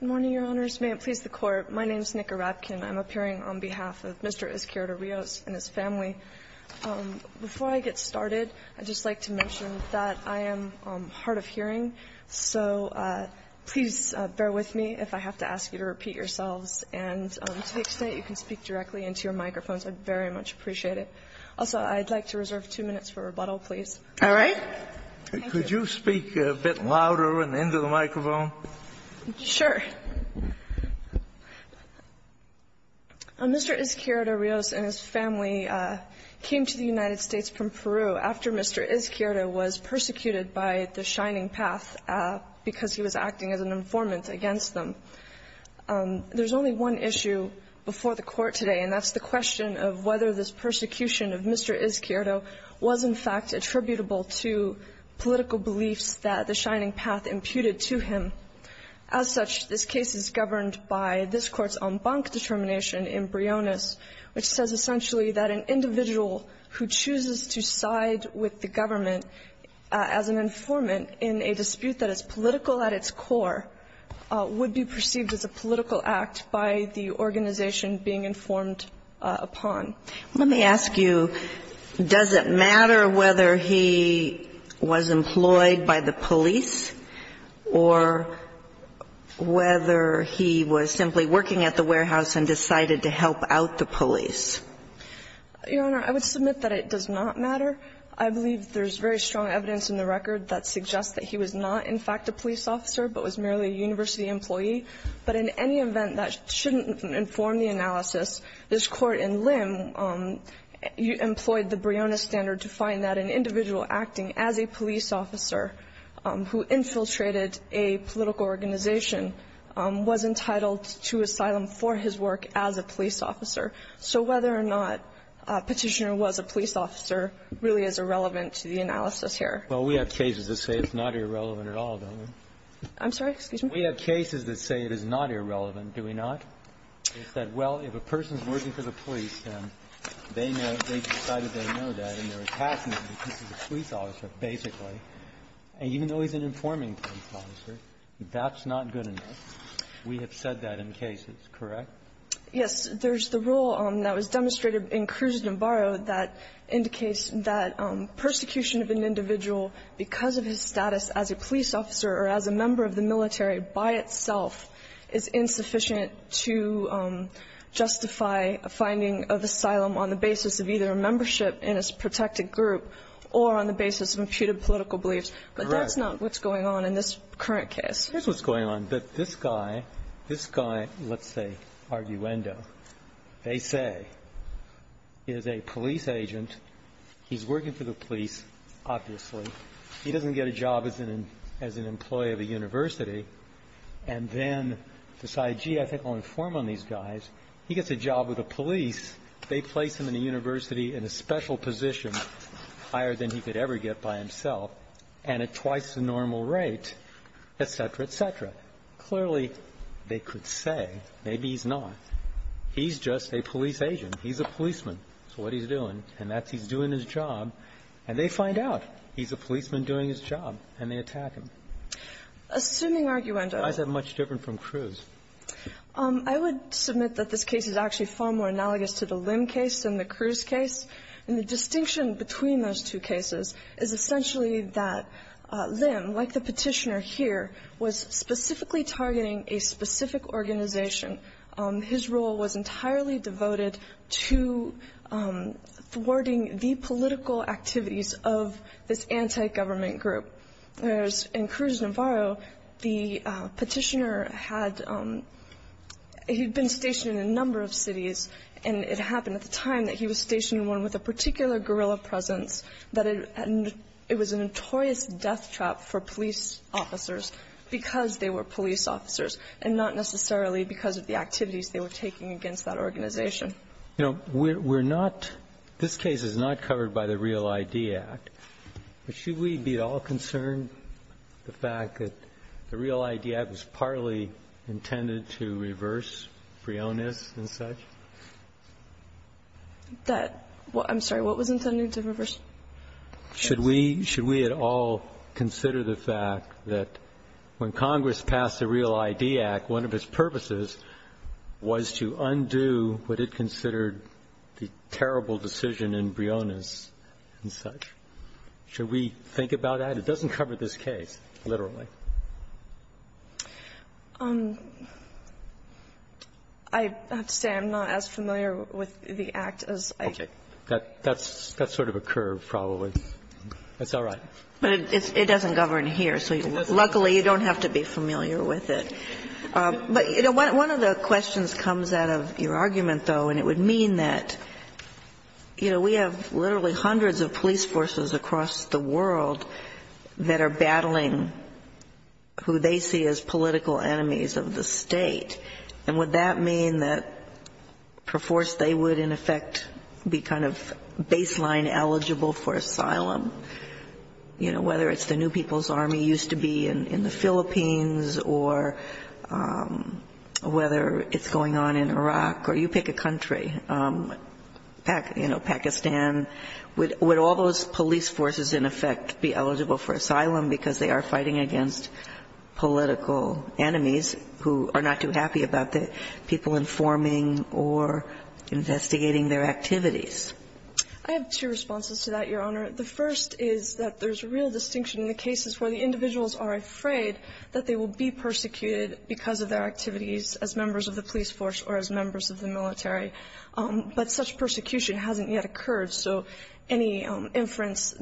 Good morning, Your Honors. May it please the Court, my name is Nica Rapkin. I'm appearing on behalf of Mr. Izquierdo-Rios and his family. Before I get started, I'd just like to mention that I am hard of hearing, so please bear with me if I have to ask you to repeat yourselves, and to the extent you can speak directly into your microphones, I'd very much appreciate it. Also, I'd like to reserve two minutes for rebuttal, please. All right? Thank you. Could you speak a bit louder and into the microphone? Sure. Mr. Izquierdo-Rios and his family came to the United States from Peru after Mr. Izquierdo was persecuted by the Shining Path because he was acting as an informant against them. There's only one issue before the Court today, and that's the question of whether this persecution of Mr. Izquierdo was, in fact, attributable to political beliefs that the Shining Path imputed to him. As such, this case is governed by this Court's en banc determination in Briones, which says essentially that an individual who chooses to side with the government as an informant in a dispute that is political at its core would be perceived as a political act by the organization being informed upon. Let me ask you, does it matter whether he was employed by the police or whether he was simply working at the warehouse and decided to help out the police? Your Honor, I would submit that it does not matter. I believe there's very strong evidence in the record that suggests that he was not, in fact, a police officer, but was merely a university employee. But in any event that shouldn't inform the analysis, this Court in Lim employed the Briones standard to find that an individual acting as a police officer who infiltrated a political organization was entitled to asylum for his work as a police officer. So whether or not Petitioner was a police officer really is irrelevant to the analysis here. Well, we have cases that say it's not irrelevant at all, don't we? I'm sorry? Excuse me? We have cases that say it is not irrelevant, do we not? It's that, well, if a person's working for the police, and they know they decided they know that, and they're a taskmaster because he's a police officer, basically, and even though he's an informing police officer, that's not good enough. We have said that in cases, correct? Yes. There's the rule that was demonstrated in Cruz-Navarro that indicates that persecution of an individual because of his status as a police officer or as a member of the military by itself is insufficient to justify a finding of asylum on the basis of either a membership in a protected group or on the basis of imputed political beliefs. Correct. But that's not what's going on in this current case. Here's what's going on. That this guy, this guy, let's say, Arguendo, they say is a police agent. He's working for the police, obviously. He doesn't get a job as an employee of a university, and then decide, gee, I think I'll inform on these guys. He gets a job with the police. They place him in a university in a special position, higher than he could ever get by himself, and at twice the normal rate, et cetera, et cetera. Clearly, they could say, maybe he's not. He's just a police agent. He's a policeman. That's what he's doing, and that's he's doing his job. And they find out he's a policeman doing his job, and they attack him. Assuming Arguendo. Why is that much different from Cruz? I would submit that this case is actually far more analogous to the Lim case than the Cruz case. And the distinction between those two cases is essentially that Lim, like the Petitioner here, was specifically targeting a specific organization. His role was entirely devoted to thwarting the political activities of this anti-government group. Whereas in Cruz Navarro, the Petitioner had been stationed in a number of cities, and it happened at the time that he was stationed in one with a particular guerrilla presence, that it was a notorious death trap for police officers because they were taking against that organization. You know, we're not – this case is not covered by the Real ID Act. But should we be at all concerned the fact that the Real ID Act was partly intended to reverse Freones and such? That – I'm sorry, what was intended to reverse? Should we at all consider the fact that when Congress passed the Real ID Act, one of its purposes was to undo what it considered the terrible decision in Freones and such? Should we think about that? It doesn't cover this case, literally. I have to say I'm not as familiar with the Act as I can. That's sort of a curve, probably. It's all right. But it doesn't govern here, so luckily you don't have to be familiar with it. But, you know, one of the questions comes out of your argument, though, and it would mean that, you know, we have literally hundreds of police forces across the world that are battling who they see as political enemies of the State. And would that mean that per force they would, in effect, be kind of baseline eligible for asylum? You know, whether it's the New People's Army used to be in the Philippines or whether it's going on in Iraq, or you pick a country, you know, Pakistan. Would all those police forces, in effect, be eligible for asylum because they are fighting against political enemies who are not too happy about the people informing or investigating their activities? I have two responses to that, Your Honor. The first is that there's real distinction in the cases where the individuals are afraid that they will be persecuted because of their activities as members of the police force or as members of the military. But such persecution hasn't yet occurred, so any inference,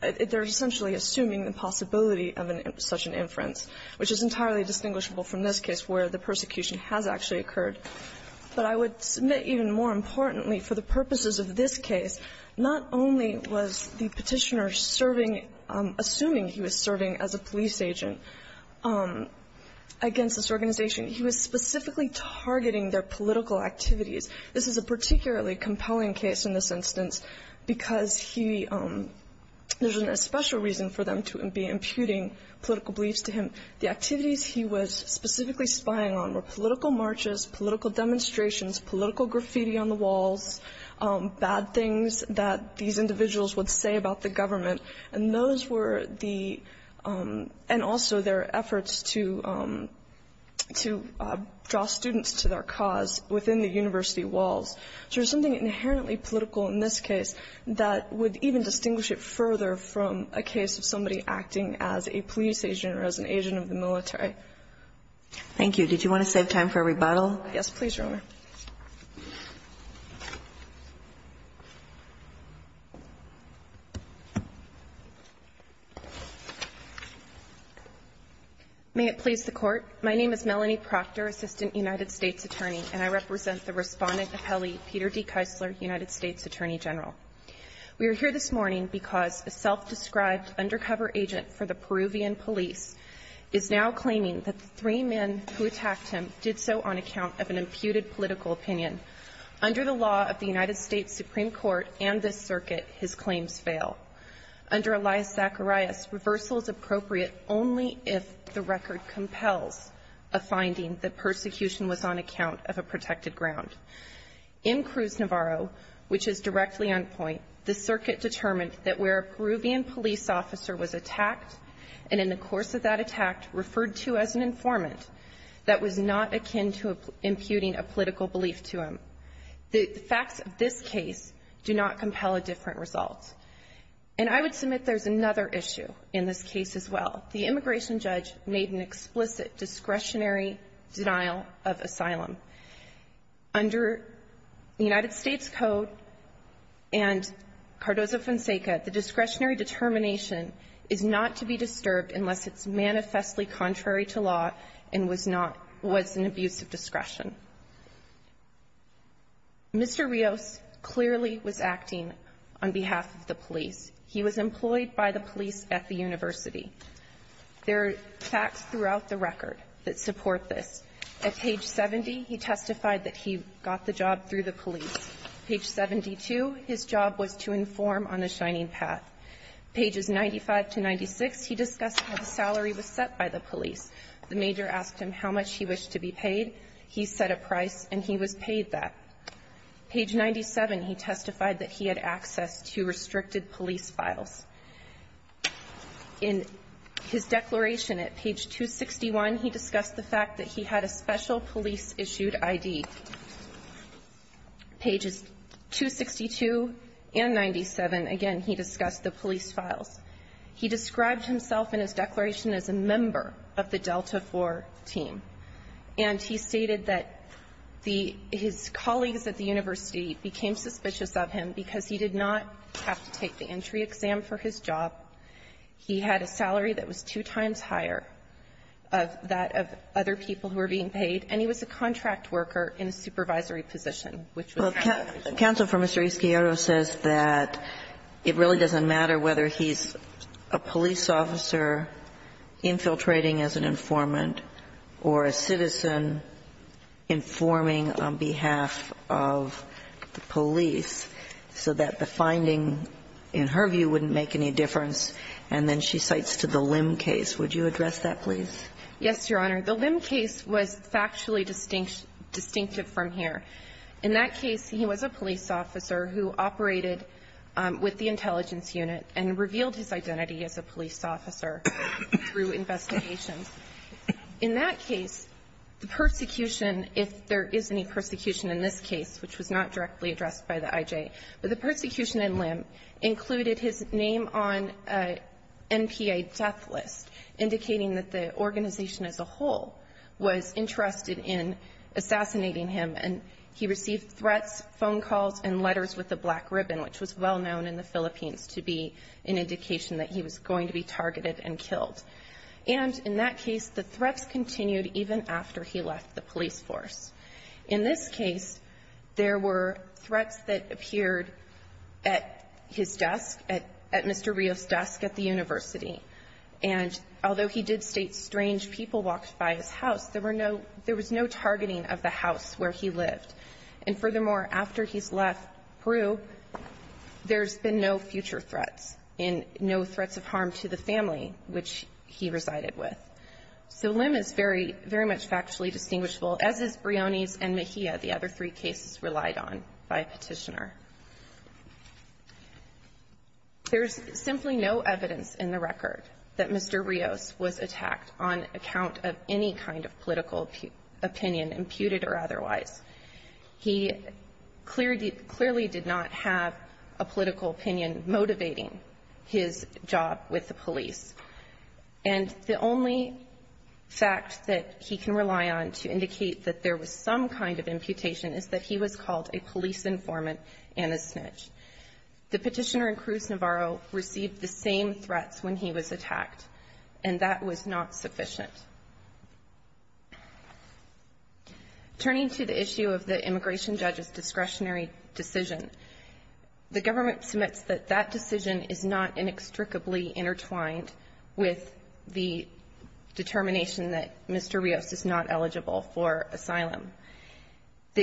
they're essentially assuming the possibility of such an inference, which is entirely distinguishable from this case where the persecution has actually occurred. But I would submit even more importantly, for the purposes of this case, not only was the Petitioner serving, assuming he was serving as a police agent against this organization, he was specifically targeting their political activities. This is a particularly compelling case in this instance because he, there's a special reason for them to be imputing political beliefs to him. The activities he was specifically spying on were political marches, political demonstrations, political graffiti on the walls, bad things that these individuals would say about the government. And those were the, and also their efforts to draw students to their cause within the university walls. So there's something inherently political in this case that would even distinguish it further from a case of somebody acting as a police agent or as an agent of the military. Thank you. Did you want to save time for a rebuttal? Yes, please, Your Honor. May it please the Court. My name is Melanie Proctor, Assistant United States Attorney, and I represent the Respondent Appellee, Peter D. Keisler, United States Attorney General. We are here this morning because a self-described undercover agent for the Peruvian police is now claiming that the three men who attacked him did so on account of an imputed political opinion. Under the law of the United States Supreme Court and this circuit, his claims fail. Under Elias Zacharias, reversal is appropriate only if the record compels a finding that persecution was on account of a protected ground. In Cruz Navarro, which is directly on point, the circuit determined that where a Peruvian police officer was attacked and in the course of that attack referred to as an informant that was not akin to imputing a political belief to him. The facts of this case do not compel a different result. And I would submit there's another issue in this case as well. Under the United States Code and Cardozo-Fonseca, the discretionary determination is not to be disturbed unless it's manifestly contrary to law and was not an abuse of discretion. Mr. Rios clearly was acting on behalf of the police. He was employed by the police at the university. There are facts throughout the record that support this. At page 70, he testified that he got the job through the police. Page 72, his job was to inform on a shining path. Pages 95 to 96, he discussed how the salary was set by the police. The major asked him how much he wished to be paid. He set a price, and he was paid that. Page 97, he testified that he had access to restricted police files. In his declaration at page 261, he discussed the fact that he had a special police-issued ID. Pages 262 and 97, again, he discussed the police files. He described himself in his declaration as a member of the Delta IV team. And he stated that the his colleagues at the university became suspicious of him because he did not have to take the entry exam for his job, he had a salary that was two times higher of that of other people who were being paid, and he was a contract worker in a supervisory position, which was not reasonable. Kagan, counsel for Mr. Izquierdo says that it really doesn't matter whether he's a police officer infiltrating as an informant or a citizen informing on behalf of the IJ, that the finding, in her view, wouldn't make any difference, and then she cites to the Lim case. Would you address that, please? Yes, Your Honor. The Lim case was factually distinctive from here. In that case, he was a police officer who operated with the intelligence unit and revealed his identity as a police officer through investigations. In that case, the persecution, if there is any persecution in this case, which was not directly addressed by the IJ, but the persecution in Lim included his name on an NPA death list, indicating that the organization as a whole was interested in assassinating him, and he received threats, phone calls, and letters with a black ribbon, which was well known in the Philippines to be an indication that he was going to be targeted and killed. And in that case, the threats continued even after he left the police force. In this case, there were threats that appeared at his desk, at Mr. Rios' desk at the university. And although he did state strange people walked by his house, there were no – there was no targeting of the house where he lived. And furthermore, after he's left Peru, there's been no future threats and no threats of harm to the family which he resided with. So Lim is very, very much factually distinguishable, as is Briones and Mejia, the other three cases relied on by Petitioner. There's simply no evidence in the record that Mr. Rios was attacked on account of any kind of political opinion, imputed or otherwise. He clearly did not have a political opinion motivating his job with the police. And the only fact that he can rely on to indicate that there was some kind of imputation is that he was called a police informant and a snitch. The Petitioner and Cruz Navarro received the same threats when he was attacked, and that was not sufficient. Turning to the issue of the immigration judge's discretionary decision, the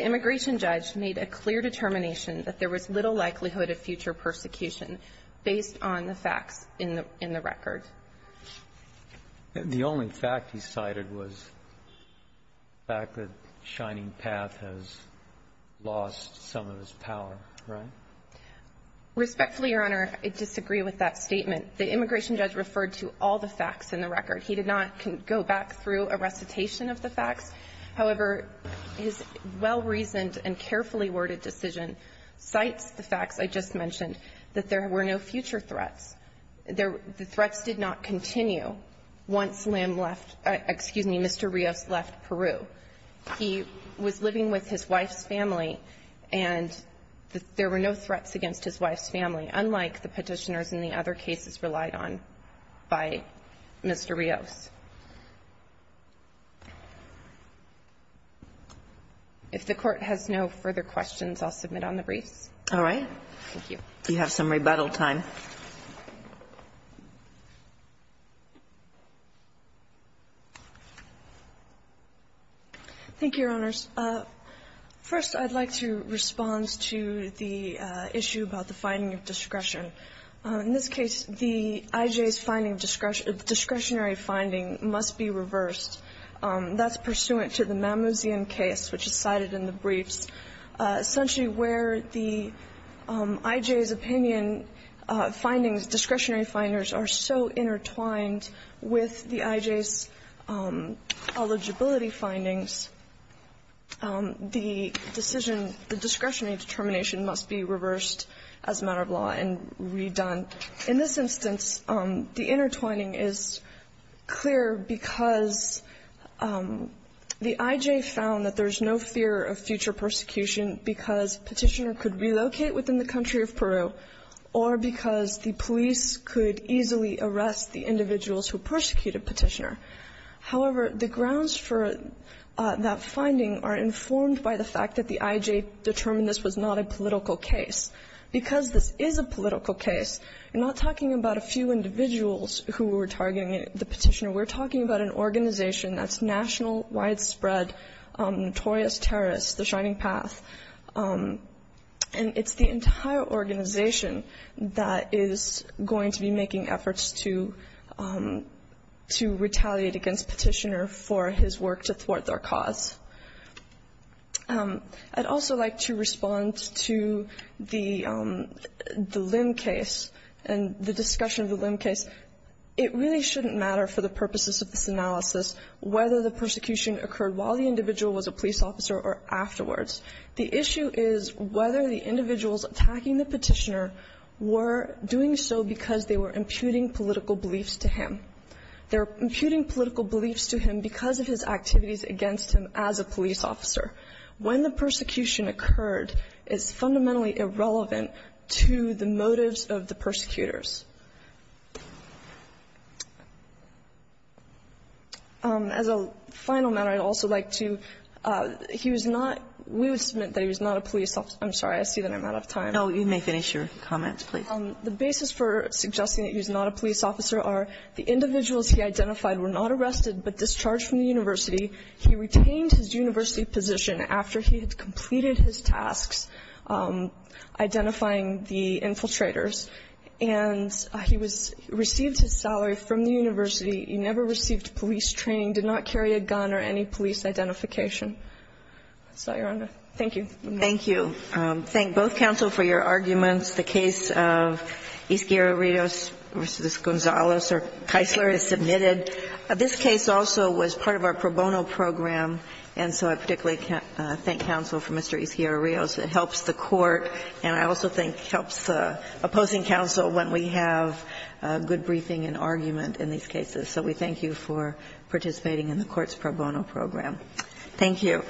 immigration judge made a clear determination that there was little likelihood of future persecution based on the facts in the – in the record. The only fact he cited was the fact that Shining Path has lost some of its power, right? Respectfully, Your Honor, I disagree with that statement. He did not go back through a recitation of the facts. However, his well-reasoned and carefully worded decision cites the facts I just mentioned, that there were no future threats. The threats did not continue once Lim left – excuse me, Mr. Rios left Peru. He was living with his wife's family, and there were no threats against his wife's family, unlike the Petitioners and the other cases relied on by Mr. Rios. If the Court has no further questions, I'll submit on the briefs. All right. Thank you. You have some rebuttal time. Thank you, Your Honors. First, I'd like to respond to the issue about the finding of discretion. In this case, the IJ's finding of discretionary finding must be reversed. That's pursuant to the Mammouzian case, which is cited in the briefs. Essentially, where the IJ's opinion findings, discretionary finders, are so intertwined with the IJ's eligibility findings, the decision, the discretionary determination must be reversed as a matter of law and redone. In this instance, the intertwining is clear because the IJ found that there is no fear of future persecution because Petitioner could relocate within the country of Peru or because the police could easily arrest the individuals who persecuted Petitioner. However, the grounds for that finding are informed by the fact that the IJ determined this was not a political case. Because this is a political case, we're not talking about a few individuals who were targeting the Petitioner. We're talking about an organization that's national widespread, notorious terrorist, the Shining Path, and it's the entire organization that is going to be making efforts to retaliate against Petitioner for his work to thwart their cause. I'd also like to respond to the Lim case and the discussion of the Lim case. It really shouldn't matter for the purposes of this analysis whether the persecution occurred while the individual was a police officer or afterwards. The issue is whether the individuals attacking the Petitioner were doing so because they were imputing political beliefs to him. They're imputing political beliefs to him because of his activities against him as a police officer. When the persecution occurred, it's fundamentally irrelevant to the motives of the persecutors. As a final matter, I'd also like to he was not we would submit that he was not a police officer. I'm sorry. I see that I'm out of time. No, you may finish your comments, please. The basis for suggesting that he was not a police officer are the individuals he identified were not arrested, but discharged from the university. He retained his university position after he had completed his tasks identifying the infiltrators. And he was received his salary from the university. He never received police training, did not carry a gun or any police identification. That's all, Your Honor. Thank you. Thank you. Thank both counsel for your arguments. The case of Izquierdo Rios v. Gonzales, or Keisler, is submitted. This case also was part of our pro bono program, and so I particularly thank counsel for Mr. Izquierdo Rios. It helps the court, and I also think helps opposing counsel when we have good briefing and argument in these cases. So we thank you for participating in the court's pro bono program. Thank you.